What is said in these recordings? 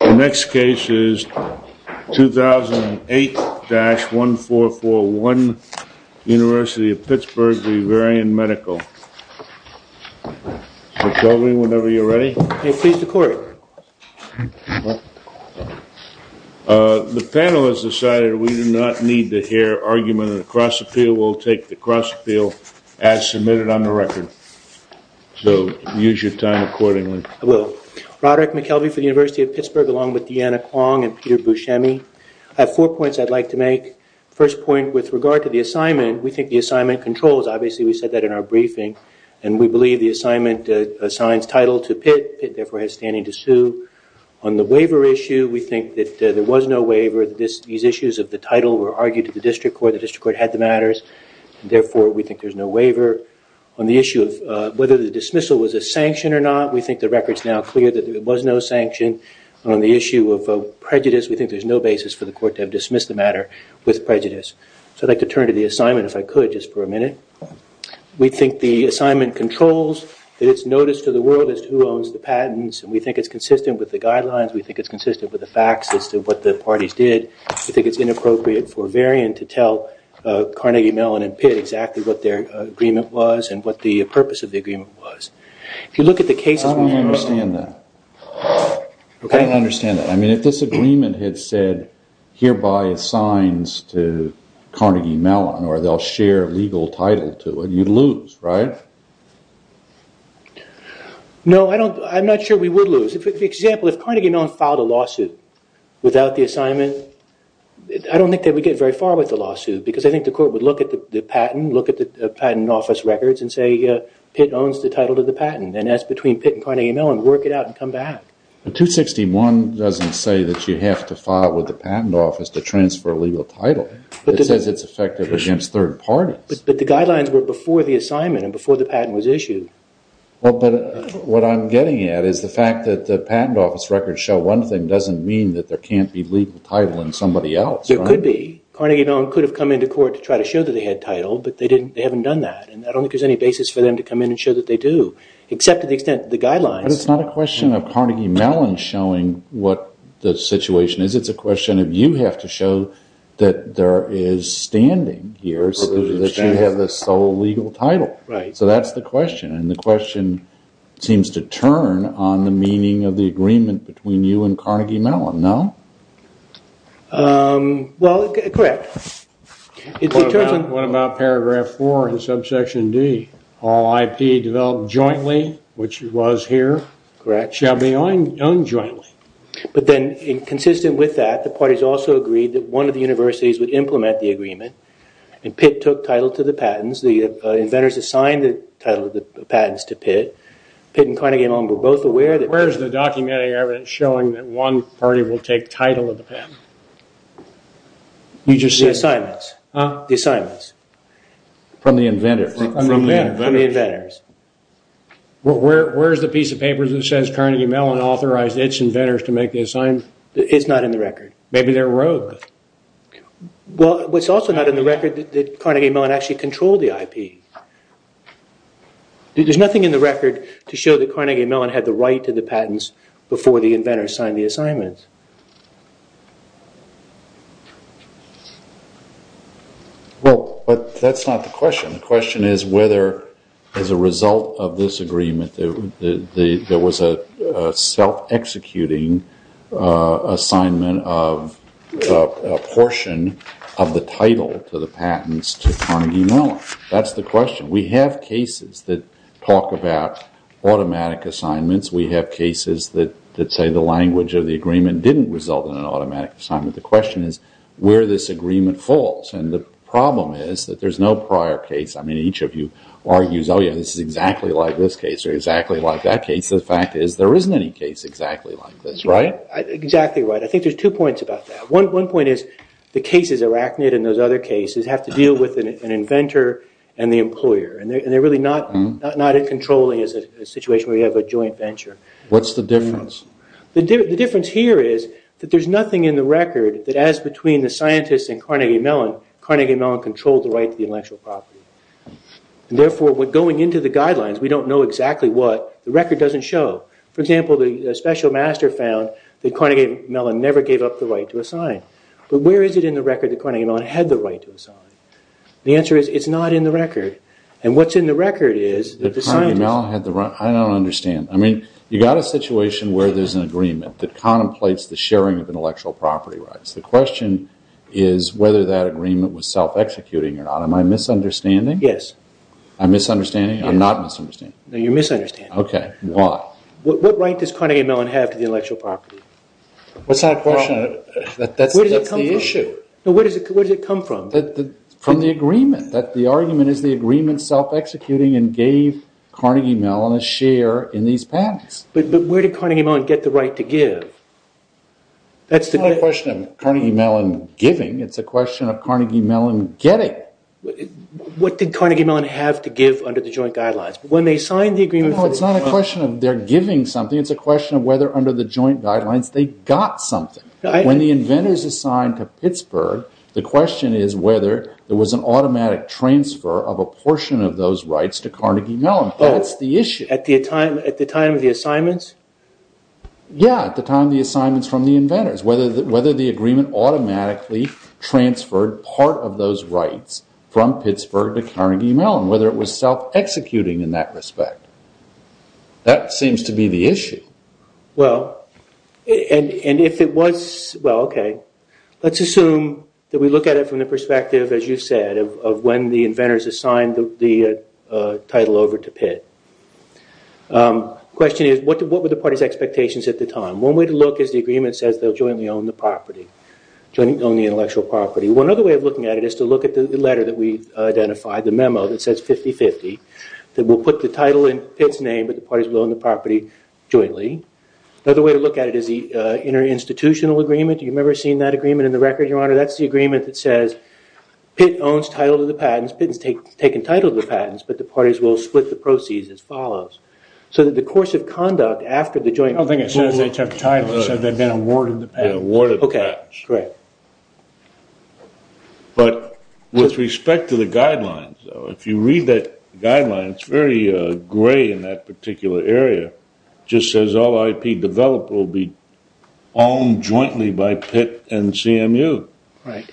The next case is 2008-1441, University of Pittsburgh v. Varian Medical. McKelvey, whenever you're ready. Please record. The panel has decided we do not need to hear argument in the cross appeal. We'll take the cross appeal as submitted on the record. So use your time accordingly. I will. Roderick McKelvey for the University of Pittsburgh along with Deanna Kwong and Peter Buscemi. I have four points I'd like to make. First point, with regard to the assignment, we think the assignment controls. Obviously, we said that in our briefing. And we believe the assignment assigns title to Pitt. Pitt, therefore, has standing to sue. On the waiver issue, we think that there was no waiver. These issues of the title were argued to the district court. The district court had the matters. Therefore, we think there's no waiver. On the issue of whether the dismissal was a sanction or not, we think the record's now clear that there was no sanction. On the issue of prejudice, we think there's no basis for the court to have dismissed the matter with prejudice. So I'd like to turn to the assignment, if I could, just for a minute. We think the assignment controls. That it's notice to the world as to who owns the patents. And we think it's consistent with the guidelines. We think it's consistent with the facts as to what the parties did. We think it's inappropriate for Varian to tell Carnegie Mellon and Pitt exactly what their agreement was and what the purpose of the agreement was. If you look at the cases... I don't understand that. I don't understand that. I mean, if this agreement had said, hereby assigns to Carnegie Mellon, or they'll share legal title to it, you'd lose, right? No, I don't. I'm not sure we would lose. For example, if Carnegie Mellon filed a lawsuit without the assignment, I don't think they would get very far with the lawsuit. Because I think the court would look at the patent, look at the patent office records, and say, Pitt owns the title to the patent. And that's between Pitt and Carnegie Mellon. Work it out and come back. But 261 doesn't say that you have to file with the patent office to transfer legal title. It says it's effective against third parties. But the guidelines were before the assignment and before the patent was issued. Well, but what I'm getting at is the fact that the patent office records show one thing doesn't mean that there can't be legal title in somebody else. There could be. Carnegie Mellon could have come into court to try to show that they had title, but they haven't done that. And I don't think there's any basis for them to come in and show that they do, except to the extent the guidelines. But it's not a question of Carnegie Mellon showing what the situation is. It's a question of you have to show that there is standing here so that you have the sole legal title. Right. So that's the question. And the question seems to turn on the meaning of the agreement between you and Carnegie Mellon, no? Well, correct. What about Paragraph 4 in Subsection D? All IP developed jointly, which it was here, shall be owned jointly. But then, consistent with that, the parties also agreed that one of the universities would implement the agreement. And Pitt took title to the patents. The inventors assigned the title of the patents to Pitt. Pitt and Carnegie Mellon were both aware that- Where's the documentary evidence showing that one party will take title of the patent? You just said- The assignments. Ah. The assignments. From the inventors. From the inventors. From the inventors. Where's the piece of paper that says Carnegie Mellon authorized its inventors to make the assignments? It's not in the record. Maybe they're rogue. Well, it's also not in the record that Carnegie Mellon actually controlled the IP. There's nothing in the record to show that Carnegie Mellon had the right to the patents before the inventors signed the assignments. Well, that's not the question. The question is whether, as a result of this agreement, there was a self-executing assignment of a portion of the title to the patents to Carnegie Mellon. That's the question. We have cases that talk about automatic assignments. We have cases that say the language of the agreement didn't result in an automatic assignment. The question is where this agreement falls, and the problem is that there's no prior case. I mean, each of you argues, oh, yeah, this is exactly like this case or exactly like that case. The fact is there isn't any case exactly like this, right? Exactly right. I think there's two points about that. One point is the cases, Arachnid and those other cases, have to deal with an inventor and the employer, and they're really not as controlling as a situation where you have a joint venture. What's the difference? The difference here is that there's nothing in the record that, as between the scientists and Carnegie Mellon, Carnegie Mellon controlled the right to the intellectual property. Therefore, going into the guidelines, we don't know exactly what. The record doesn't show. For example, the special master found that Carnegie Mellon never gave up the right to assign. But where is it in the record that Carnegie Mellon had the right to assign? The answer is it's not in the record. And what's in the record is that the scientists… I don't understand. I mean, you've got a situation where there's an agreement that contemplates the sharing of intellectual property rights. The question is whether that agreement was self-executing or not. Am I misunderstanding? Yes. I'm misunderstanding? I'm not misunderstanding. No, you're misunderstanding. Okay. Why? What right does Carnegie Mellon have to the intellectual property? That's not a question. That's the issue. Where does it come from? Where does it come from? From the agreement, that the argument is the agreement self-executing and gave Carnegie Mellon a share in these patents. But where did Carnegie Mellon get the right to give? That's not a question of Carnegie Mellon giving. It's a question of Carnegie Mellon getting. What did Carnegie Mellon have to give under the joint guidelines? No, it's not a question of they're giving something. It's a question of whether under the joint guidelines they got something. When the inventors assigned to Pittsburgh, the question is whether there was an automatic transfer of a portion of those rights to Carnegie Mellon. That's the issue. At the time of the assignments? Yeah, at the time of the assignments from the inventors, whether the agreement automatically transferred part of those rights from Pittsburgh to Carnegie Mellon, whether it was self-executing in that respect. That seems to be the issue. Well, and if it was, well, okay. Let's assume that we look at it from the perspective, as you said, of when the inventors assigned the title over to Pitt. The question is, what were the party's expectations at the time? One way to look is the agreement says they'll jointly own the property, jointly own the intellectual property. One other way of looking at it is to look at the letter that we've identified, the memo that says 50-50, that will put the title in Pitt's name, but the parties will own the property jointly. Another way to look at it is the inter-institutional agreement. Do you remember seeing that agreement in the record, Your Honor? That's the agreement that says Pitt owns title to the patents. Pitt has taken title to the patents, but the parties will split the proceeds as follows. So that the course of conduct after the joint... I don't think it says they took title. It says they've been awarded the patents. Correct. But with respect to the guidelines, if you read the guidelines, it's very gray in that particular area. It just says all IP developers will be owned jointly by Pitt and CMU. Right.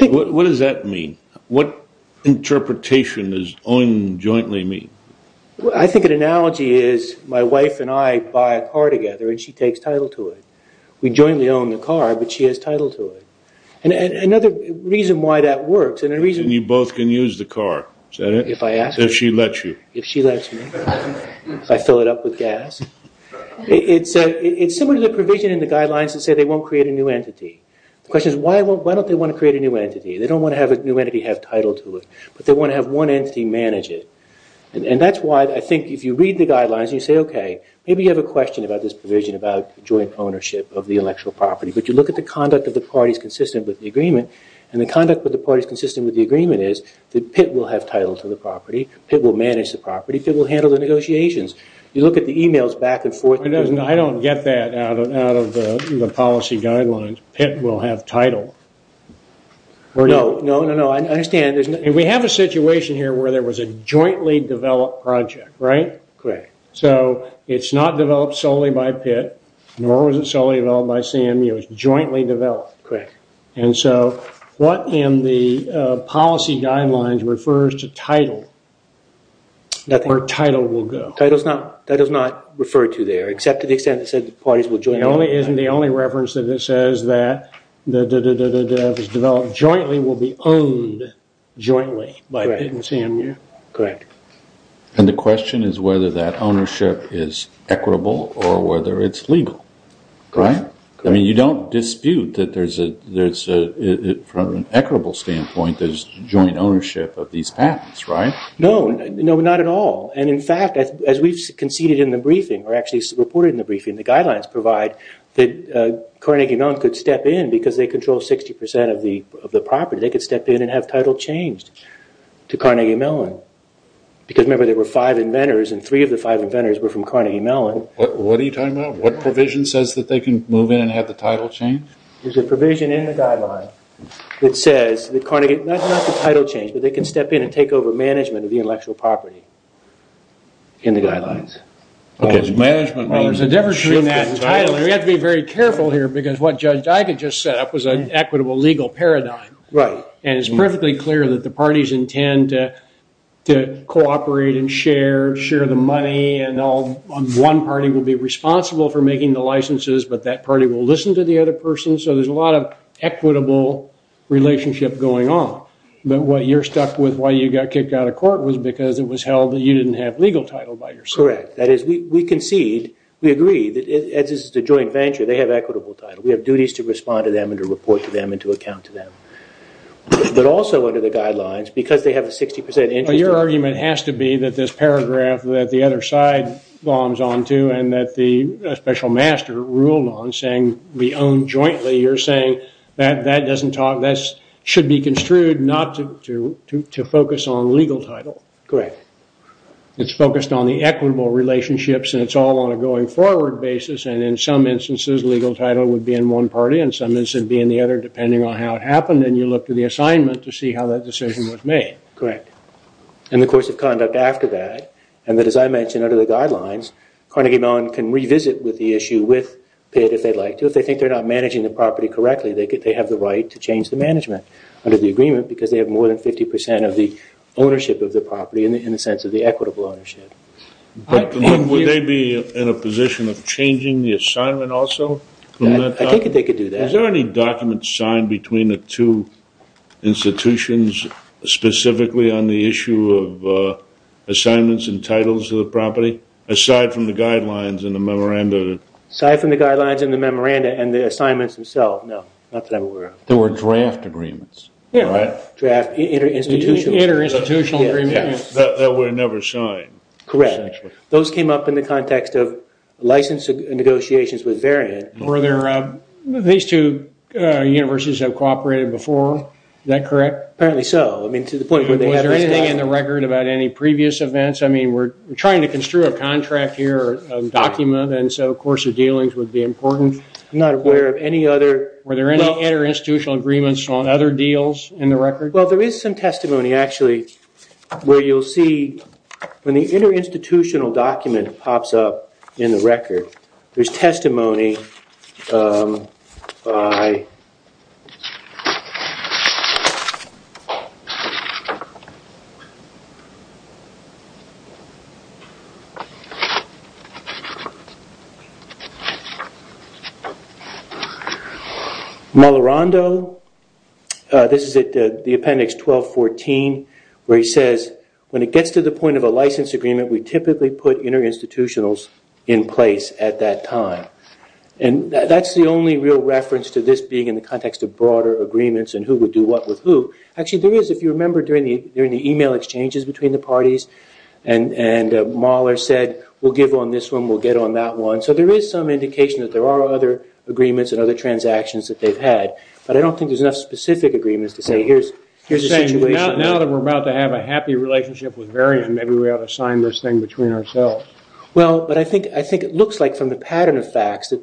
What does that mean? What interpretation does own jointly mean? I think an analogy is my wife and I buy a car together and she takes title to it. We jointly own the car, but she has title to it. And another reason why that works... And you both can use the car. If I ask you. If she lets you. If she lets me. If I fill it up with gas. It's similar to the provision in the guidelines that say they won't create a new entity. The question is, why don't they want to create a new entity? They don't want to have a new entity have title to it, but they want to have one entity manage it. And that's why I think if you read the guidelines and you say, okay, maybe you have a question about this provision about joint ownership of the intellectual property. But you look at the conduct of the parties consistent with the agreement. And the conduct of the parties consistent with the agreement is that Pitt will have title to the property. Pitt will manage the property. Pitt will handle the negotiations. You look at the emails back and forth. I don't get that out of the policy guidelines. Pitt will have title. No, no, no. I understand. We have a situation here where there was a jointly developed project, right? Correct. So it's not developed solely by Pitt, nor was it solely developed by CMU. It was jointly developed. Correct. And so what in the policy guidelines refers to title? Where title will go. Title is not referred to there, except to the extent that it says parties will join. It isn't the only reference that says that the development jointly will be owned jointly by Pitt and CMU. Correct. And the question is whether that ownership is equitable or whether it's legal, right? Correct. I mean, you don't dispute that there's a, from an equitable standpoint, there's joint ownership of these patents, right? No, not at all. And, in fact, as we've conceded in the briefing, or actually reported in the briefing, the guidelines provide that Carnegie Mellon could step in because they control 60% of the property. They could step in and have title changed to Carnegie Mellon. Because, remember, there were five inventors, and three of the five inventors were from Carnegie Mellon. What are you talking about? What provision says that they can move in and have the title changed? There's a provision in the guideline that says that Carnegie, not the title change, but they can step in and take over management of the intellectual property in the guidelines. Okay. Management. Well, there's a difference between that and title. And we have to be very careful here because what Judge Dige just set up was an equitable legal paradigm. Right. And it's perfectly clear that the parties intend to cooperate and share, share the money, and one party will be responsible for making the licenses, but that party will listen to the other person. So there's a lot of equitable relationship going on. But what you're stuck with, why you got kicked out of court, was because it was held that you didn't have legal title by yourself. Correct. That is, we concede, we agree, that as a joint venture, they have equitable title. We have duties to respond to them and to report to them and to account to them. But also under the guidelines, because they have a 60% interest rate. Well, your argument has to be that this paragraph that the other side bombs on to and that the special master ruled on saying we own jointly, you're saying that that doesn't talk, that should be construed not to focus on legal title. Correct. It's focused on the equitable relationships and it's all on a going forward basis. And in some instances, legal title would be in one party, and in some instances it would be in the other depending on how it happened. And you look to the assignment to see how that decision was made. Correct. And the course of conduct after that, and that as I mentioned under the guidelines, Carnegie Mellon can revisit with the issue with Pitt if they'd like to. Because if they think they're not managing the property correctly, they have the right to change the management under the agreement because they have more than 50% of the ownership of the property in the sense of the equitable ownership. Would they be in a position of changing the assignment also? I think they could do that. Is there any document signed between the two institutions specifically on the issue of assignments and titles of the property aside from the guidelines and the memoranda? Aside from the guidelines and the memoranda and the assignments themselves? No, not that I'm aware of. There were draft agreements, right? Inter-institutional. Inter-institutional agreements that were never signed. Correct. Those came up in the context of license negotiations with Variant. These two universities have cooperated before, is that correct? Apparently so. Was there anything in the record about any previous events? I mean, we're trying to construe a contract here, a document, and so, of course, the dealings would be important. I'm not aware of any other. Were there any inter-institutional agreements on other deals in the record? Well, there is some testimony actually where you'll see when the inter-institutional document pops up in the record, there's testimony by Molorando. This is at the appendix 1214 where he says, when it gets to the point of a license agreement, we typically put inter-institutionals in place at that time. That's the only real reference to this being in the context of broader agreements and who would do what with who. Actually, there is, if you remember during the e-mail exchanges between the parties, and Molor said, we'll give on this one, we'll get on that one. So there is some indication that there are other agreements and other transactions that they've had. But I don't think there's enough specific agreements to say here's the situation. Now that we're about to have a happy relationship with Varian, maybe we ought to sign this thing between ourselves. Well, but I think it looks like from the pattern of facts that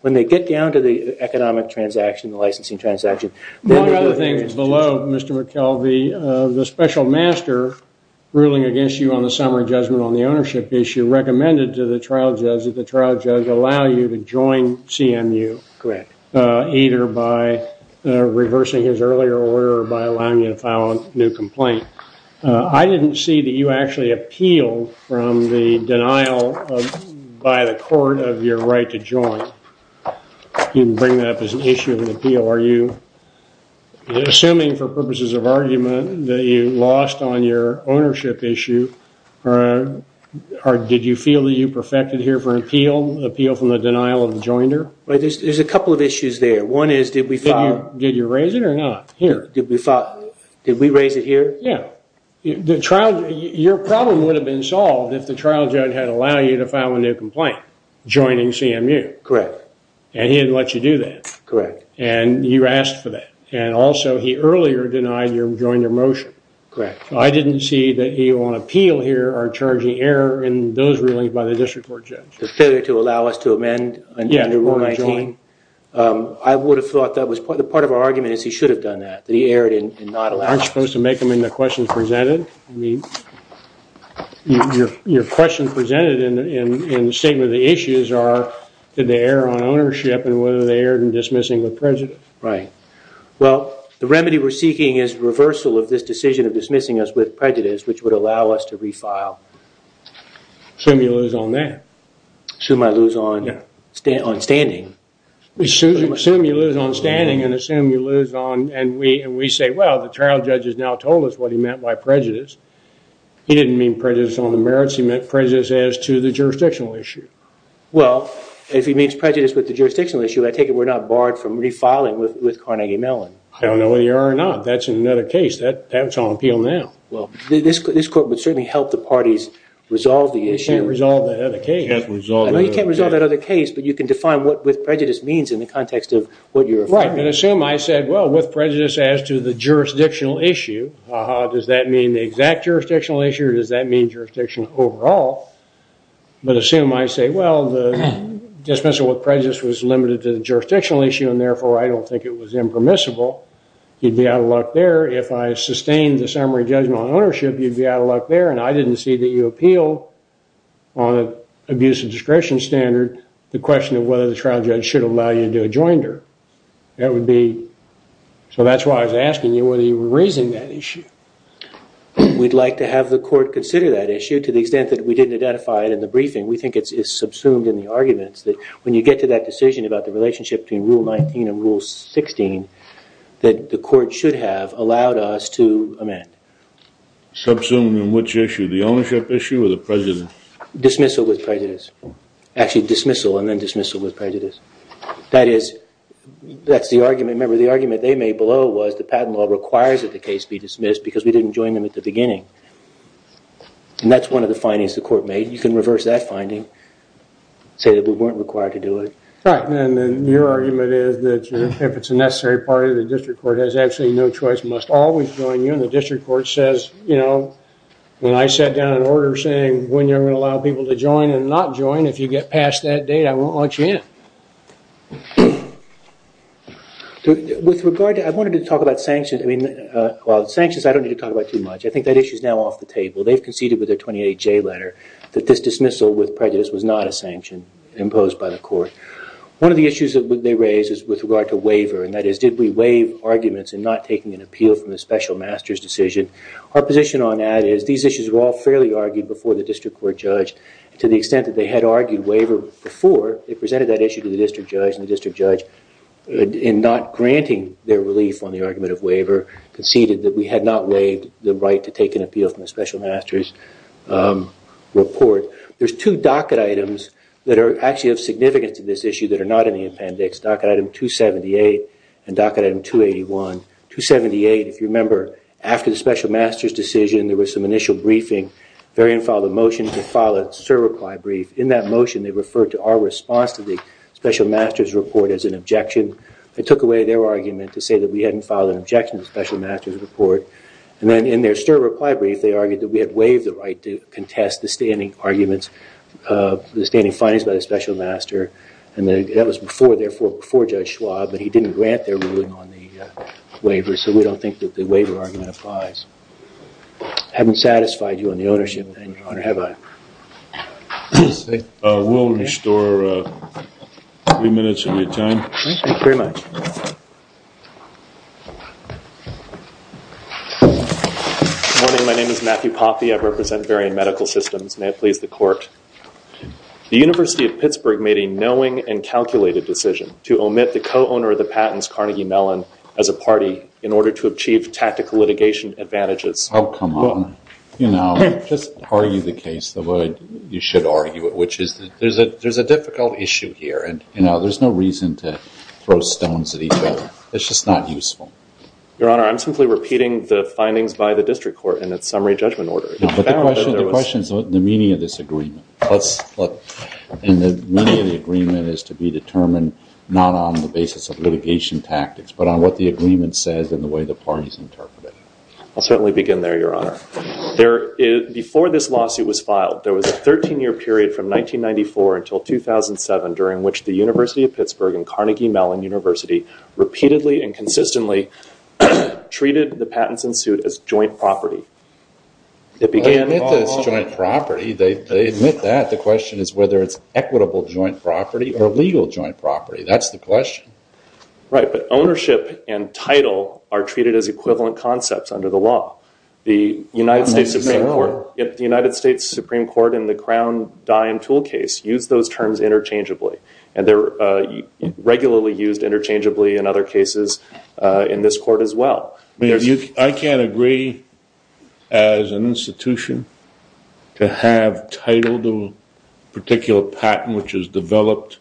when they get down to the economic transaction, the licensing transaction. One other thing below, Mr. McKelvey, the special master ruling against you on the summary judgment on the ownership issue recommended to the trial judge that the trial judge allow you to join CMU. Correct. Either by reversing his earlier order or by allowing you to file a new complaint. I didn't see that you actually appealed from the denial by the court of your right to join. You can bring that up as an issue of an appeal. Are you assuming for purposes of argument that you lost on your ownership issue or did you feel that you perfected here for an appeal from the denial of the joinder? There's a couple of issues there. One is did we file... Did you raise it or not? Here. Did we raise it here? Yeah. Your problem would have been solved if the trial judge had allowed you to file a new complaint joining CMU. Correct. And he didn't let you do that. Correct. And you asked for that. And also he earlier denied your joinder motion. Correct. I didn't see that you on appeal here are charging error in those rulings by the district court judge. The failure to allow us to amend... Yeah. I would have thought that was... The part of our argument is he should have done that, that he erred in not allowing... Aren't you supposed to make them in the questions presented? Your questions presented in the statement of the issues are did they err on ownership and whether they erred in dismissing with prejudice. Right. Well, the remedy we're seeking is reversal of this decision of dismissing us with prejudice, which would allow us to refile. Assume you lose on that. Assume I lose on standing. Assume you lose on standing and assume you lose on... And we say, well, the trial judge has now told us what he meant by prejudice. He didn't mean prejudice on the merits. He meant prejudice as to the jurisdictional issue. Well, if he means prejudice with the jurisdictional issue, I take it we're not barred from refiling with Carnegie Mellon. I don't know whether you are or not. That's another case. That's on appeal now. Well, this court would certainly help the parties resolve the issue. You can't resolve that other case. I know you can't resolve that other case, but you can define what with prejudice means in the context of what you're referring to. Right, but assume I said, well, with prejudice as to the jurisdictional issue, does that mean the exact jurisdictional issue or does that mean jurisdiction overall? But assume I say, well, the dismissal with prejudice was limited to the jurisdictional issue and, therefore, I don't think it was impermissible. You'd be out of luck there. If I sustained the summary judgment on ownership, you'd be out of luck there, and I didn't see that you appeal on an abuse of discretion standard the question of whether the trial judge should allow you to do a joinder. So that's why I was asking you whether you were raising that issue. We'd like to have the court consider that issue to the extent that we didn't identify it in the briefing. We think it's subsumed in the arguments that when you get to that decision about the relationship between Rule 19 and Rule 16 that the court should have allowed us to amend. Subsumed in which issue? The ownership issue or the prejudice? Dismissal with prejudice. Actually, dismissal and then dismissal with prejudice. That is, that's the argument. Remember, the argument they made below was the patent law requires that the case be dismissed because we didn't join them at the beginning. And that's one of the findings the court made. You can reverse that finding, say that we weren't required to do it. Right, and then your argument is that if it's a necessary party, the district court has absolutely no choice, must always join you, and the district court says, you know, when I sat down an order saying when you're going to allow people to join and not join, if you get past that date, I won't let you in. With regard to that, I wanted to talk about sanctions. Well, sanctions I don't need to talk about too much. I think that issue is now off the table. They've conceded with their 28J letter that this dismissal with prejudice was not a sanction imposed by the court. One of the issues that they raised is with regard to waiver, and that is did we waive arguments in not taking an appeal from the special master's decision. Our position on that is these issues were all fairly argued before the district court judged. To the extent that they had argued waiver before, they presented that issue to the district judge, and the district judge, in not granting their relief on the argument of waiver, conceded that we had not waived the right to take an appeal from the special master's report. There's two docket items that actually have significance to this issue that are not in the appendix, docket item 278 and docket item 281. 278, if you remember, after the special master's decision, there was some initial briefing. They didn't file a motion, they filed a STIR reply brief. In that motion, they referred to our response to the special master's report as an objection. They took away their argument to say that we hadn't filed an objection to the special master's report, and then in their STIR reply brief, they argued that we had waived the right to contest the standing arguments, the standing findings by the special master, and that was before, therefore, before Judge Schwab, but he didn't grant their ruling on the waiver, so we don't think that the waiver argument applies. I haven't satisfied you on the ownership, Your Honor, have I? We'll restore three minutes of your time. Thank you very much. Good morning. My name is Matthew Poppy. I represent Varian Medical Systems. May it please the Court. The University of Pittsburgh made a knowing and calculated decision to omit the co-owner of the patents, Carnegie Mellon, as a party in order to achieve tactical litigation advantages. Oh, come on. You know, just argue the case the way you should argue it, which is there's a difficult issue here, and there's no reason to throw stones at each other. It's just not useful. Your Honor, I'm simply repeating the findings by the district court in its summary judgment order. But the question is the meaning of this agreement, and the meaning of the agreement is to be determined not on the basis of litigation tactics, but on what the agreement says and the way the parties interpret it. I'll certainly begin there, Your Honor. Before this lawsuit was filed, there was a 13-year period from 1994 until 2007, during which the University of Pittsburgh and Carnegie Mellon University repeatedly and consistently treated the patents ensued as joint property. They admit that it's joint property. They admit that. The question is whether it's equitable joint property or legal joint property. That's the question. Right, but ownership and title are treated as equivalent concepts under the law. The United States Supreme Court in the Crown Dime Toolcase used those terms interchangeably, and they're regularly used interchangeably in other cases in this court as well. I can't agree as an institution to have title to a particular patent, which is developed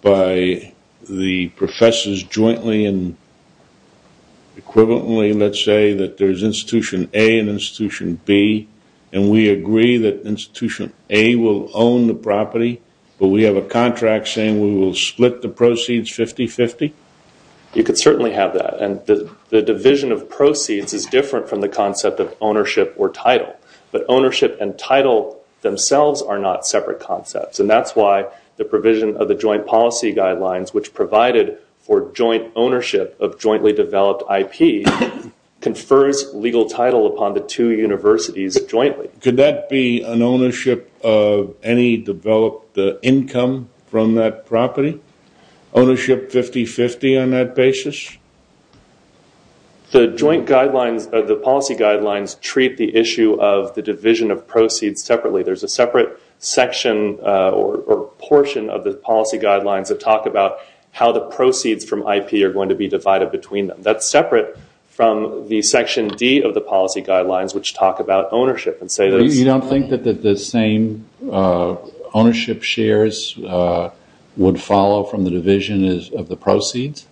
by the professors jointly and equivalently, let's say, that there's Institution A and Institution B, and we agree that Institution A will own the property, but we have a contract saying we will split the proceeds 50-50? You could certainly have that, and the division of proceeds is different from the concept of ownership or title, but ownership and title themselves are not separate concepts, and that's why the provision of the joint policy guidelines, which provided for joint ownership of jointly developed IP, confers legal title upon the two universities jointly. Could that be an ownership of any developed income from that property? Ownership 50-50 on that basis? The policy guidelines treat the issue of the division of proceeds separately. There's a separate section or portion of the policy guidelines that talk about how the proceeds from IP are going to be divided between them. That's separate from the Section D of the policy guidelines, which talk about ownership and say that it's- You don't think that the same ownership shares would follow from the division of the proceeds?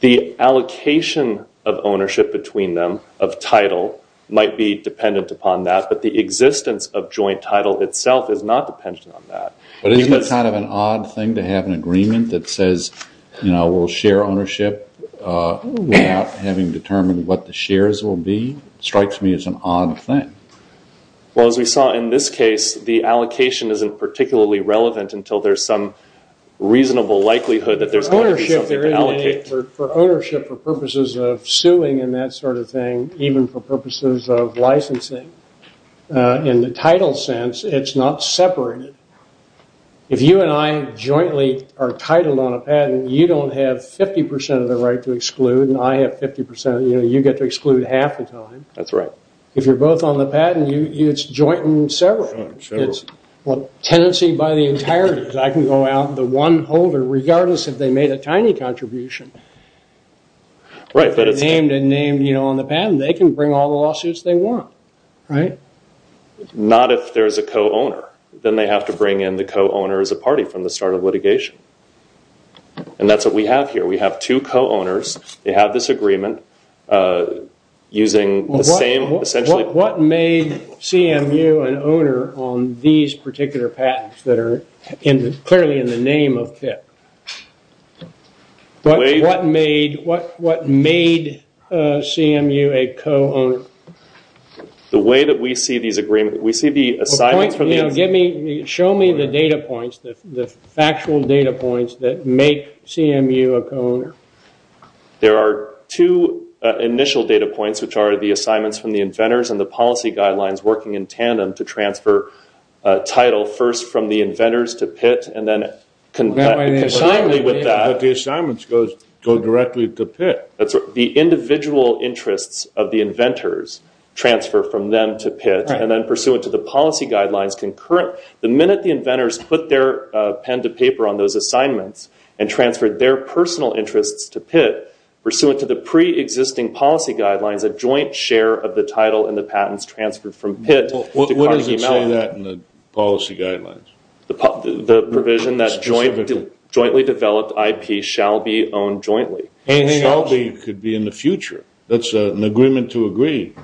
The allocation of ownership between them of title might be dependent upon that, but the existence of joint title itself is not dependent on that. Isn't it kind of an odd thing to have an agreement that says we'll share ownership without having determined what the shares will be? It strikes me as an odd thing. Well, as we saw in this case, the allocation isn't particularly relevant until there's some reasonable likelihood that there's going to be something to allocate. For ownership, for purposes of suing and that sort of thing, even for purposes of licensing, in the title sense, it's not separated. If you and I jointly are titled on a patent, you don't have 50 percent of the right to exclude and I have 50 percent. You get to exclude half the time. If you're both on the patent, it's joint and separate. It's tenancy by the entirety. I can go out, the one holder, regardless if they made a tiny contribution. If they're named and named on the patent, they can bring all the lawsuits they want. Not if there's a co-owner. Then they have to bring in the co-owner as a party from the start of litigation. That's what we have here. We have two co-owners. They have this agreement using the same essentially- What made CMU an owner on these particular patents that are clearly in the name of KIP? What made CMU a co-owner? The way that we see these agreements, we see the assignments- Show me the data points, the factual data points that make CMU a co-owner. There are two initial data points, which are the assignments from the inventors and the policy guidelines working in tandem to transfer title, first from the inventors to Pitt and then- But the assignments go directly to Pitt. That's right. The individual interests of the inventors transfer from them to Pitt and then pursue it to the policy guidelines concurrent. The minute the inventors put their pen to paper on those assignments and transferred their personal interests to Pitt, pursuant to the pre-existing policy guidelines, a joint share of the title and the patents transferred from Pitt to Carnegie Mellon- What does it say that in the policy guidelines? The provision that jointly developed IP shall be owned jointly. Anything could be in the future. That's an agreement to agree.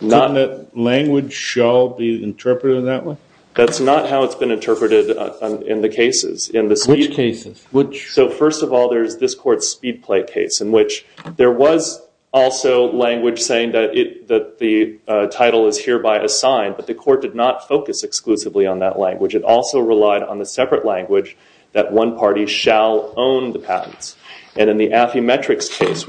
Couldn't that language shall be interpreted in that way? That's not how it's been interpreted in the cases. Which cases? First of all, there is this court's Speedplay case in which there was also language saying that the title is hereby assigned, but the court did not focus exclusively on that language. It also relied on the separate language that one party shall own the patents. In the Affymetrix case,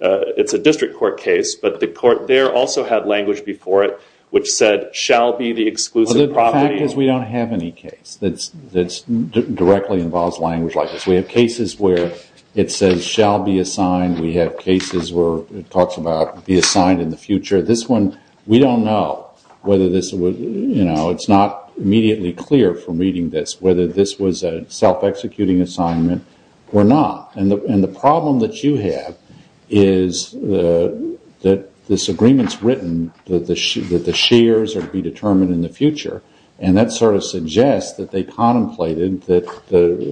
it's a district court case, but the court there also had language before it which said, shall be the exclusive property- It directly involves language like this. We have cases where it says shall be assigned. We have cases where it talks about be assigned in the future. We don't know whether this was- It's not immediately clear from reading this whether this was a self-executing assignment or not. The problem that you have is that this agreement is written that the shares are to be determined in the future, and that sort of suggests that they contemplated that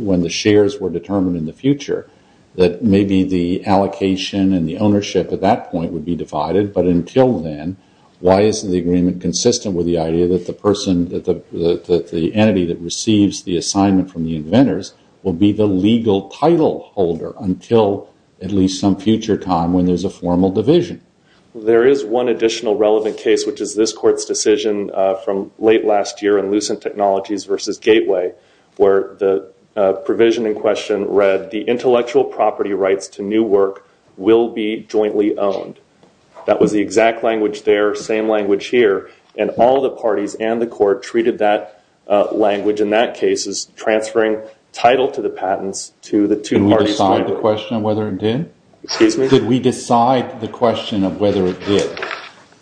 when the shares were determined in the future that maybe the allocation and the ownership at that point would be divided, but until then, why isn't the agreement consistent with the idea that the entity that receives the assignment from the inventors will be the legal title holder until at least some future time when there's a formal division? There is one additional relevant case, which is this court's decision from late last year in Lucent Technologies versus Gateway where the provision in question read the intellectual property rights to new work will be jointly owned. That was the exact language there, same language here, and all the parties and the court treated that language in that case as transferring title to the patents to the two parties- Did we decide the question of whether it did? Excuse me? Did we decide the question of whether it did?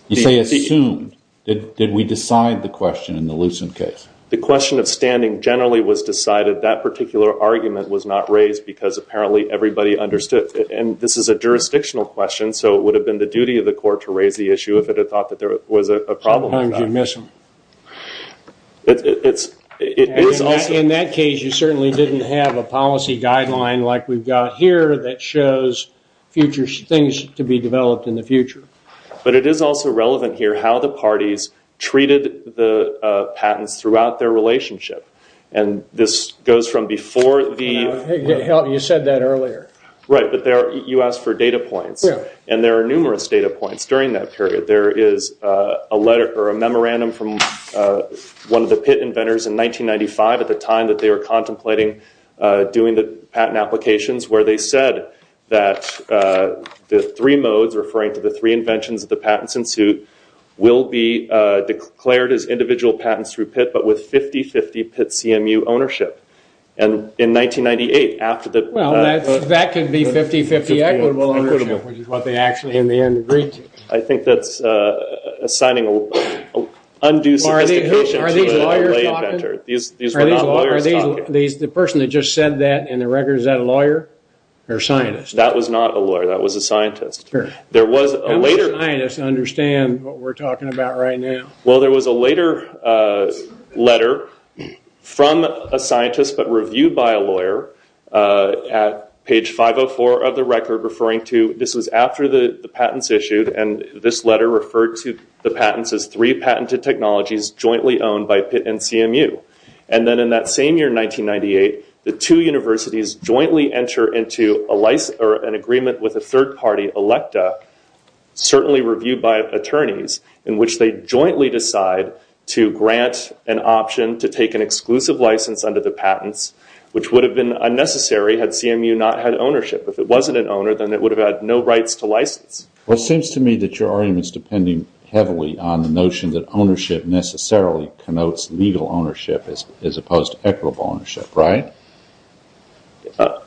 You say assumed. Did we decide the question in the Lucent case? The question of standing generally was decided. That particular argument was not raised because apparently everybody understood it, and this is a jurisdictional question, so it would have been the duty of the court to raise the issue if it had thought that there was a problem with that. Sometimes you miss them. In that case, you certainly didn't have a policy guideline like we've got here that shows future things to be developed in the future. But it is also relevant here how the parties treated the patents throughout their relationship, and this goes from before the- You said that earlier. Right, but you asked for data points, and there are numerous data points during that period. There is a letter or a memorandum from one of the pit inventors in 1995 at the time that they were contemplating doing the patent applications where they said that the three modes, referring to the three inventions of the patents in suit, will be declared as individual patents through pit, but with 50-50 pit CMU ownership. And in 1998, after the- Well, that could be 50-50 equitable ownership, which is what they actually in the end agreed to. I think that's assigning undue sophistication to the lay inventor. These were not lawyers talking. The person that just said that in the record, is that a lawyer or a scientist? That was not a lawyer. That was a scientist. There was a later- How would a scientist understand what we're talking about right now? Well, there was a later letter from a scientist but reviewed by a lawyer at page 504 of the record referring to- This was after the patents issued, and this letter referred to the patents as three patented technologies jointly owned by pit and CMU. And then in that same year, 1998, the two universities jointly enter into an agreement with a third-party electa, certainly reviewed by attorneys, in which they jointly decide to grant an option to take an exclusive license under the patents, which would have been unnecessary had CMU not had ownership. If it wasn't an owner, then it would have had no rights to license. I assume that ownership necessarily connotes legal ownership as opposed to equitable ownership, right?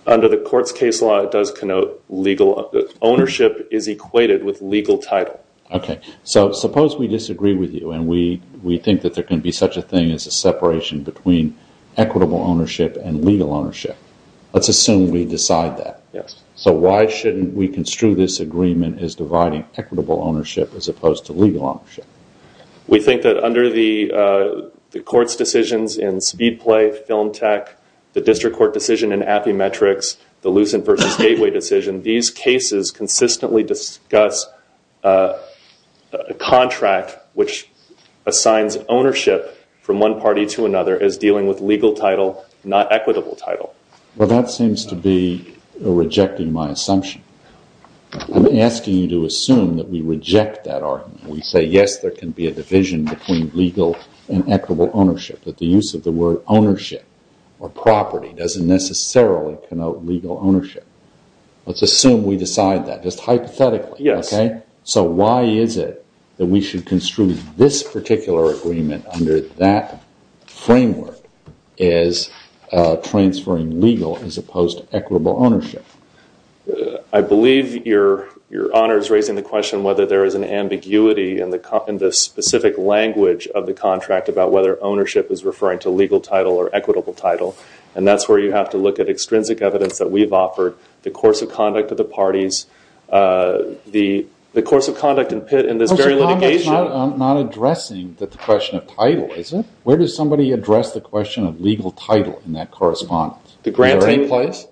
Under the court's case law, it does connote legal- Ownership is equated with legal title. Okay, so suppose we disagree with you and we think that there can be such a thing as a separation between equitable ownership and legal ownership. Let's assume we decide that. So why shouldn't we construe this agreement as dividing equitable ownership as opposed to legal ownership? We think that under the court's decisions in Speedplay, Film Tech, the district court decision in Appymetrics, the Lucent versus Gateway decision, these cases consistently discuss a contract which assigns ownership from one party to another as dealing with legal title, not equitable title. Well, that seems to be rejecting my assumption. I'm asking you to assume that we reject that argument. We say, yes, there can be a division between legal and equitable ownership, that the use of the word ownership or property doesn't necessarily connote legal ownership. Let's assume we decide that, just hypothetically. So why is it that we should construe this particular agreement under that framework as transferring legal as opposed to equitable ownership? I believe your honor is raising the question whether there is an ambiguity in the specific language of the contract about whether ownership is referring to legal title or equitable title, and that's where you have to look at extrinsic evidence that we've offered, the course of conduct of the parties, the course of conduct in this very litigation. I'm not addressing the question of title, is it? Where does somebody address the question of legal title in that correspondence? The granting place?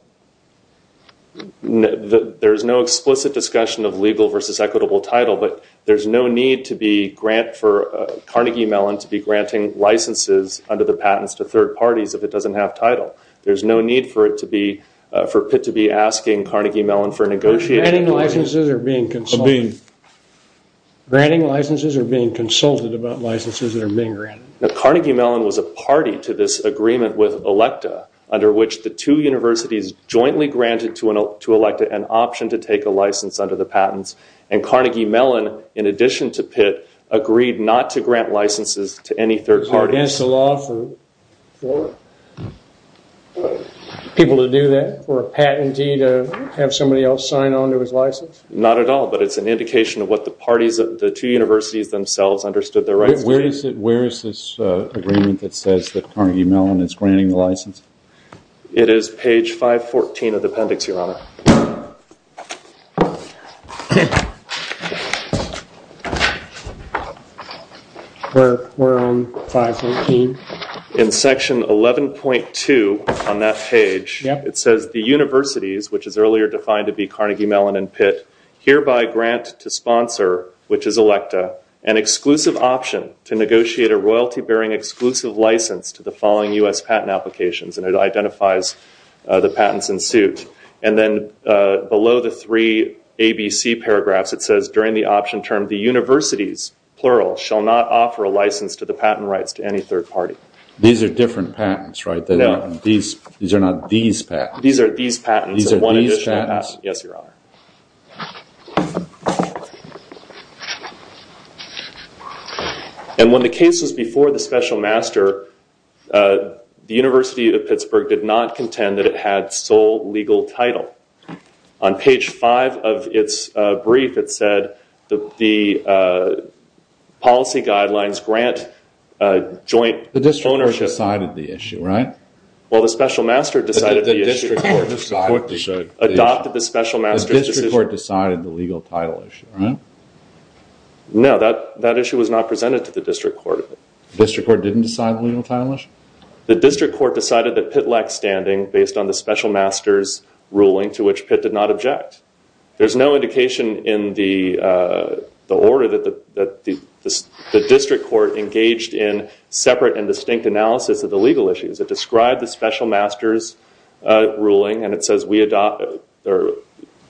There's no explicit discussion of legal versus equitable title, but there's no need for Carnegie Mellon to be granting licenses under the patents to third parties if it doesn't have title. There's no need for Pitt to be asking Carnegie Mellon for negotiation. Granting licenses or being consulted? Granting licenses or being consulted about licenses that are being granted? Carnegie Mellon was a party to this agreement with ELECTA under which the two universities jointly granted to ELECTA an option to take a license under the patents, and Carnegie Mellon, in addition to Pitt, agreed not to grant licenses to any third party. Is there against the law for people to do that, for a patentee to have somebody else sign on to his license? Not at all, but it's an indication of what the parties, the two universities themselves understood their rights to do. Where is this agreement that says that Carnegie Mellon is granting the license? It is page 514 of the appendix, Your Honor. We're on 514? In section 11.2 on that page, it says the universities, which is earlier defined to be Carnegie Mellon and Pitt, hereby grant to sponsor, which is ELECTA, an exclusive option to negotiate a royalty-bearing exclusive license to the following U.S. patent applications, and it identifies the patents in suit. And then below the three ABC paragraphs, it says, during the option term, the universities, plural, shall not offer a license to the patent rights to any third party. These are different patents, right? No. These are not these patents? These are these patents. These are these patents? Yes, Your Honor. And when the case was before the special master, the University of Pittsburgh did not contend that it had sole legal title. On page 5 of its brief, it said the policy guidelines grant joint ownership. The district court decided the issue, right? Well, the special master decided the issue. Adopted the special master's decision. The district court decided the legal title issue, right? No, that issue was not presented to the district court. The district court didn't decide the legal title issue? The district court decided that Pitt lacked standing based on the special master's ruling, to which Pitt did not object. There's no indication in the order that the district court engaged in separate and distinct analysis of the legal issues. It described the special master's ruling, and it says the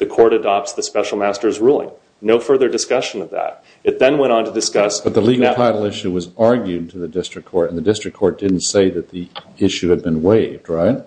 court adopts the special master's ruling. No further discussion of that. It then went on to discuss- But the legal title issue was argued to the district court, and the district court didn't say that the issue had been waived, right?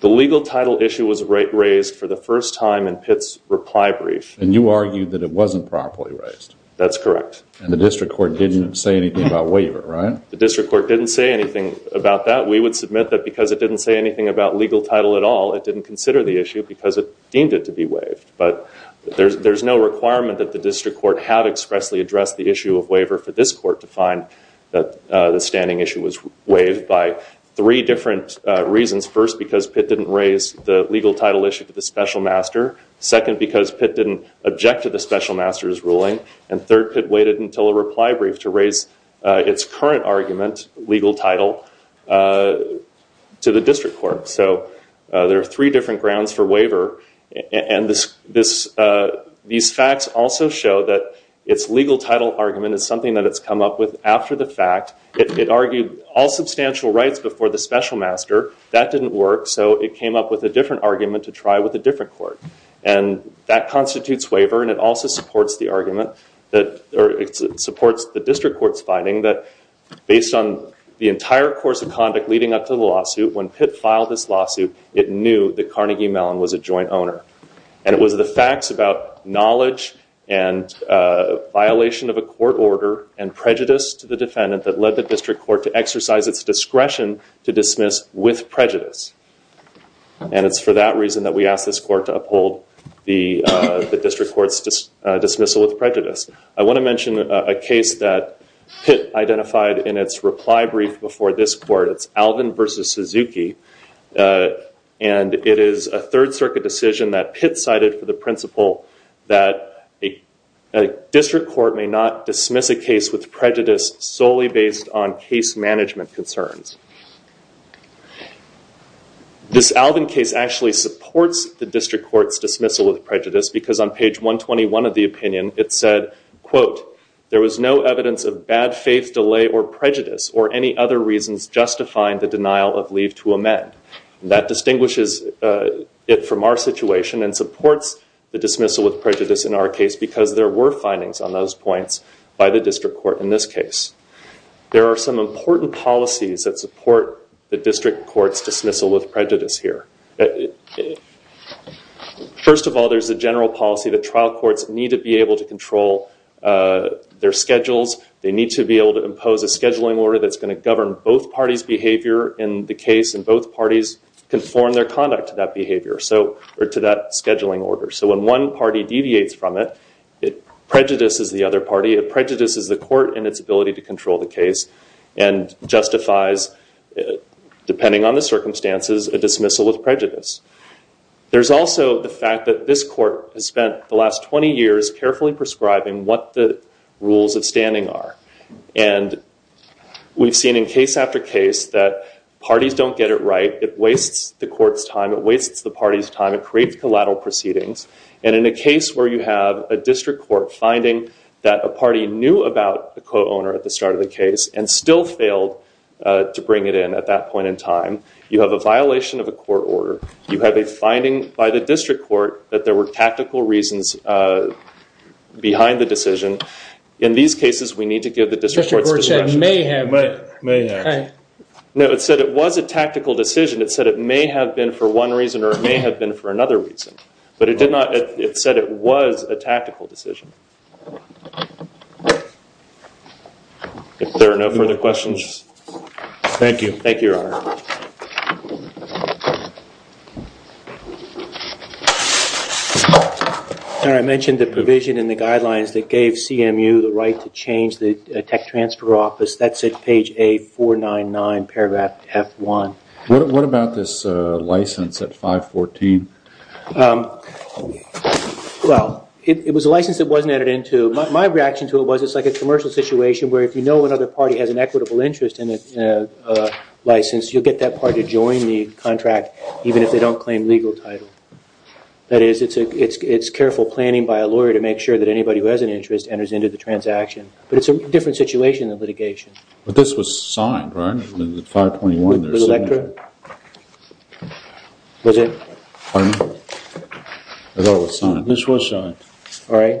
The legal title issue was raised for the first time in Pitt's reply brief. And you argued that it wasn't properly raised? That's correct. And the district court didn't say anything about waiver, right? The district court didn't say anything about that. We would submit that because it didn't say anything about legal title at all, it didn't consider the issue because it deemed it to be waived. But there's no requirement that the district court had expressly addressed the issue of waiver for this court to find that the standing issue was waived by three different reasons. First, because Pitt didn't raise the legal title issue to the special master. Second, because Pitt didn't object to the special master's ruling. And third, Pitt waited until a reply brief to raise its current argument, legal title, to the district court. So there are three different grounds for waiver. And these facts also show that its legal title argument is something that it's come up with after the fact. It argued all substantial rights before the special master. That didn't work. So it came up with a different argument to try with a different court. And that constitutes waiver, and it also supports the argument that, or it supports the district court's finding that based on the entire course of conduct leading up to the lawsuit, when Pitt filed this lawsuit, it knew that Carnegie Mellon was a joint owner. And it was the facts about knowledge and violation of a court order and prejudice to the defendant that led the district court to exercise its discretion to dismiss with prejudice. And it's for that reason that we asked this court to uphold the district court's dismissal with prejudice. I want to mention a case that Pitt identified in its reply brief before this court. It's Alvin v. Suzuki. And it is a Third Circuit decision that Pitt cited for the principle that a district court may not dismiss a case with prejudice solely based on case management concerns. This Alvin case actually supports the district court's dismissal with prejudice because on page 121 of the opinion, it said, quote, there was no evidence of bad faith delay or prejudice or any other reasons justifying the denial of leave to amend. That distinguishes it from our situation and supports the dismissal with prejudice in our case because there were findings on those points by the district court in this case. There are some important policies that support the district court's dismissal with prejudice here. First of all, there's a general policy that trial courts need to be able to control their schedules. They need to be able to impose a scheduling order that's going to govern both parties' behavior in the case and both parties conform their conduct to that behavior or to that scheduling order. So when one party deviates from it, it prejudices the other party. It prejudices the court in its ability to control the case and justifies, depending on the circumstances, a dismissal with prejudice. There's also the fact that this court has spent the last 20 years carefully prescribing what the rules of standing are. And we've seen in case after case that parties don't get it right. It wastes the court's time. It wastes the party's time. It creates collateral proceedings. And in a case where you have a district court finding that a party knew about the co-owner at the start of the case and still failed to bring it in at that point in time, you have a violation of a court order. You have a finding by the district court that there were tactical reasons behind the decision. In these cases, we need to give the district court's discretion. The district court said it may have. No, it said it was a tactical decision. It said it may have been for one reason or it may have been for another reason. But it said it was a tactical decision. If there are no further questions. Thank you. Thank you, Your Honor. I mentioned the provision in the guidelines that gave CMU the right to change the tech transfer office. That's at page A499, paragraph F1. What about this license at 514? Well, it was a license that wasn't added into. My reaction to it was it's like a commercial situation where if you know another party has an equitable interest in a license, you'll get that party to join the contract even if they don't claim legal title. That is, it's careful planning by a lawyer to make sure that anybody who has an interest enters into the transaction. But it's a different situation than litigation. But this was signed, right? The 521 there. With Electra? Was it? Pardon me? It was signed. This was signed. All right.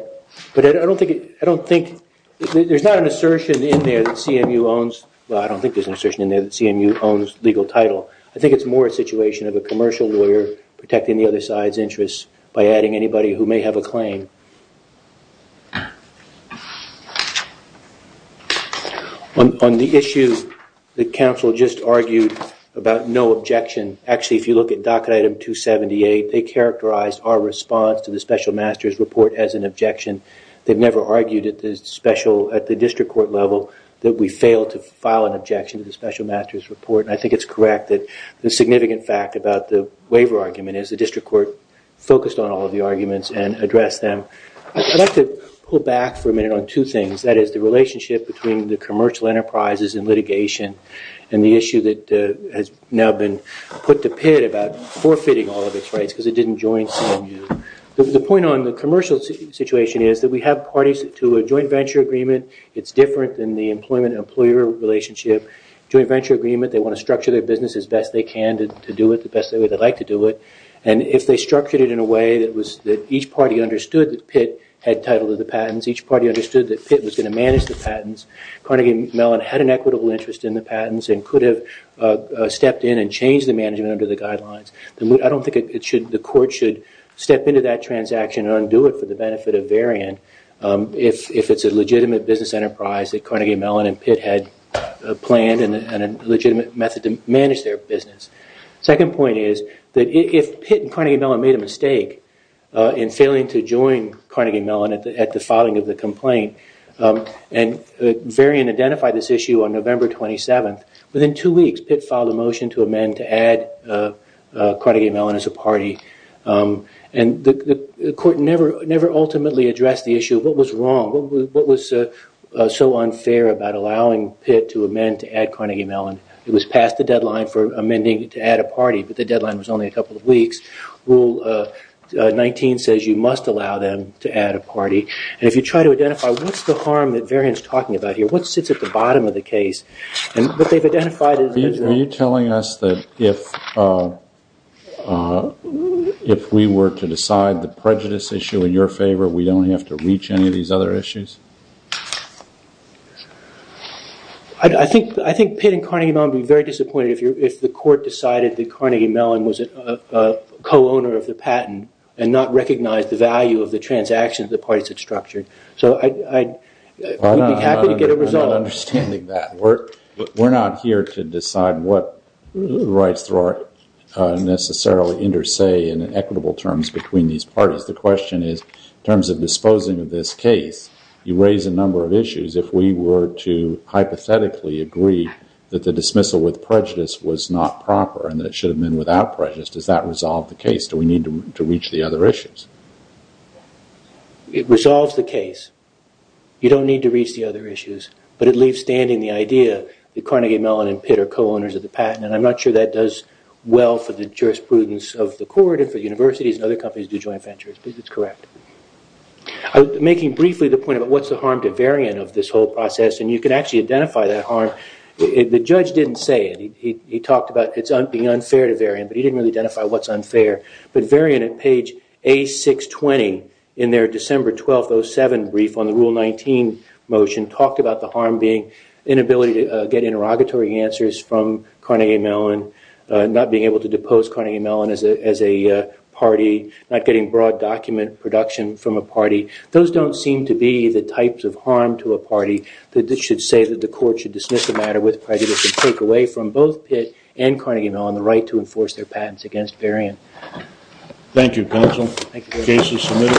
But I don't think there's not an assertion in there that CMU owns legal title. I think it's more a situation of a commercial lawyer protecting the other side's interests by adding anybody who may have a claim. On the issue that counsel just argued about no objection, actually if you look at never argued at the district court level that we failed to file an objection to the special master's report. And I think it's correct that the significant fact about the waiver argument is the district court focused on all of the arguments and addressed them. I'd like to pull back for a minute on two things. That is, the relationship between the commercial enterprises and litigation and the issue that has now been put to pit about forfeiting all of its rights because it didn't join CMU. The point on the commercial situation is that we have parties to a joint venture agreement. It's different than the employment-employer relationship. Joint venture agreement, they want to structure their business as best they can to do it the best way they'd like to do it. And if they structured it in a way that each party understood that pit had title to the patents, each party understood that pit was going to manage the patents, Carnegie Mellon had an equitable interest in the patents and could have stepped in and changed the management under the guidelines. I don't think the court should step into that transaction and undo it for the benefit of Varian if it's a legitimate business enterprise that Carnegie Mellon and pit had planned and a legitimate method to manage their business. Second point is that if pit and Carnegie Mellon made a mistake in failing to join Carnegie Mellon at the filing of the complaint and Varian identified this issue on Carnegie Mellon as a party, and the court never ultimately addressed the issue of what was wrong, what was so unfair about allowing pit to amend to add Carnegie Mellon. It was past the deadline for amending to add a party, but the deadline was only a couple of weeks. Rule 19 says you must allow them to add a party. And if you try to identify what's the harm that Varian's talking about here, what sits at the bottom of the case? Are you telling us that if we were to decide the prejudice issue in your favor, we don't have to reach any of these other issues? I think pit and Carnegie Mellon would be very disappointed if the court decided that Carnegie Mellon was a co-owner of the patent and not recognized the value of the transactions the parties had structured. So I'd be happy to get a result. I'm not understanding that. We're not here to decide what rights necessarily inter-say in equitable terms between these parties. The question is in terms of disposing of this case, you raise a number of issues. If we were to hypothetically agree that the dismissal with prejudice was not proper and that it should have been without prejudice, does that resolve the case? Do we need to reach the other issues? It resolves the case. You don't need to reach the other issues, but it leaves standing the idea that Carnegie Mellon and pit are co-owners of the patent. I'm not sure that does well for the jurisprudence of the court and for universities and other companies who do joint ventures, but it's correct. Making briefly the point about what's the harm to Varian of this whole process, and you can actually identify that harm, the judge didn't say it. He talked about it being unfair to Varian, but he didn't really identify what's unfair. But Varian at page A620 in their December 12, 07 brief on the rule 19 motion talked about the harm being inability to get interrogatory answers from Carnegie Mellon, not being able to depose Carnegie Mellon as a party, not getting broad document production from a party. Those don't seem to be the types of harm to a party that should say that the court should dismiss the matter with prejudice and take away from both pit and Carnegie Mellon the Thank you, counsel. The case is submitted.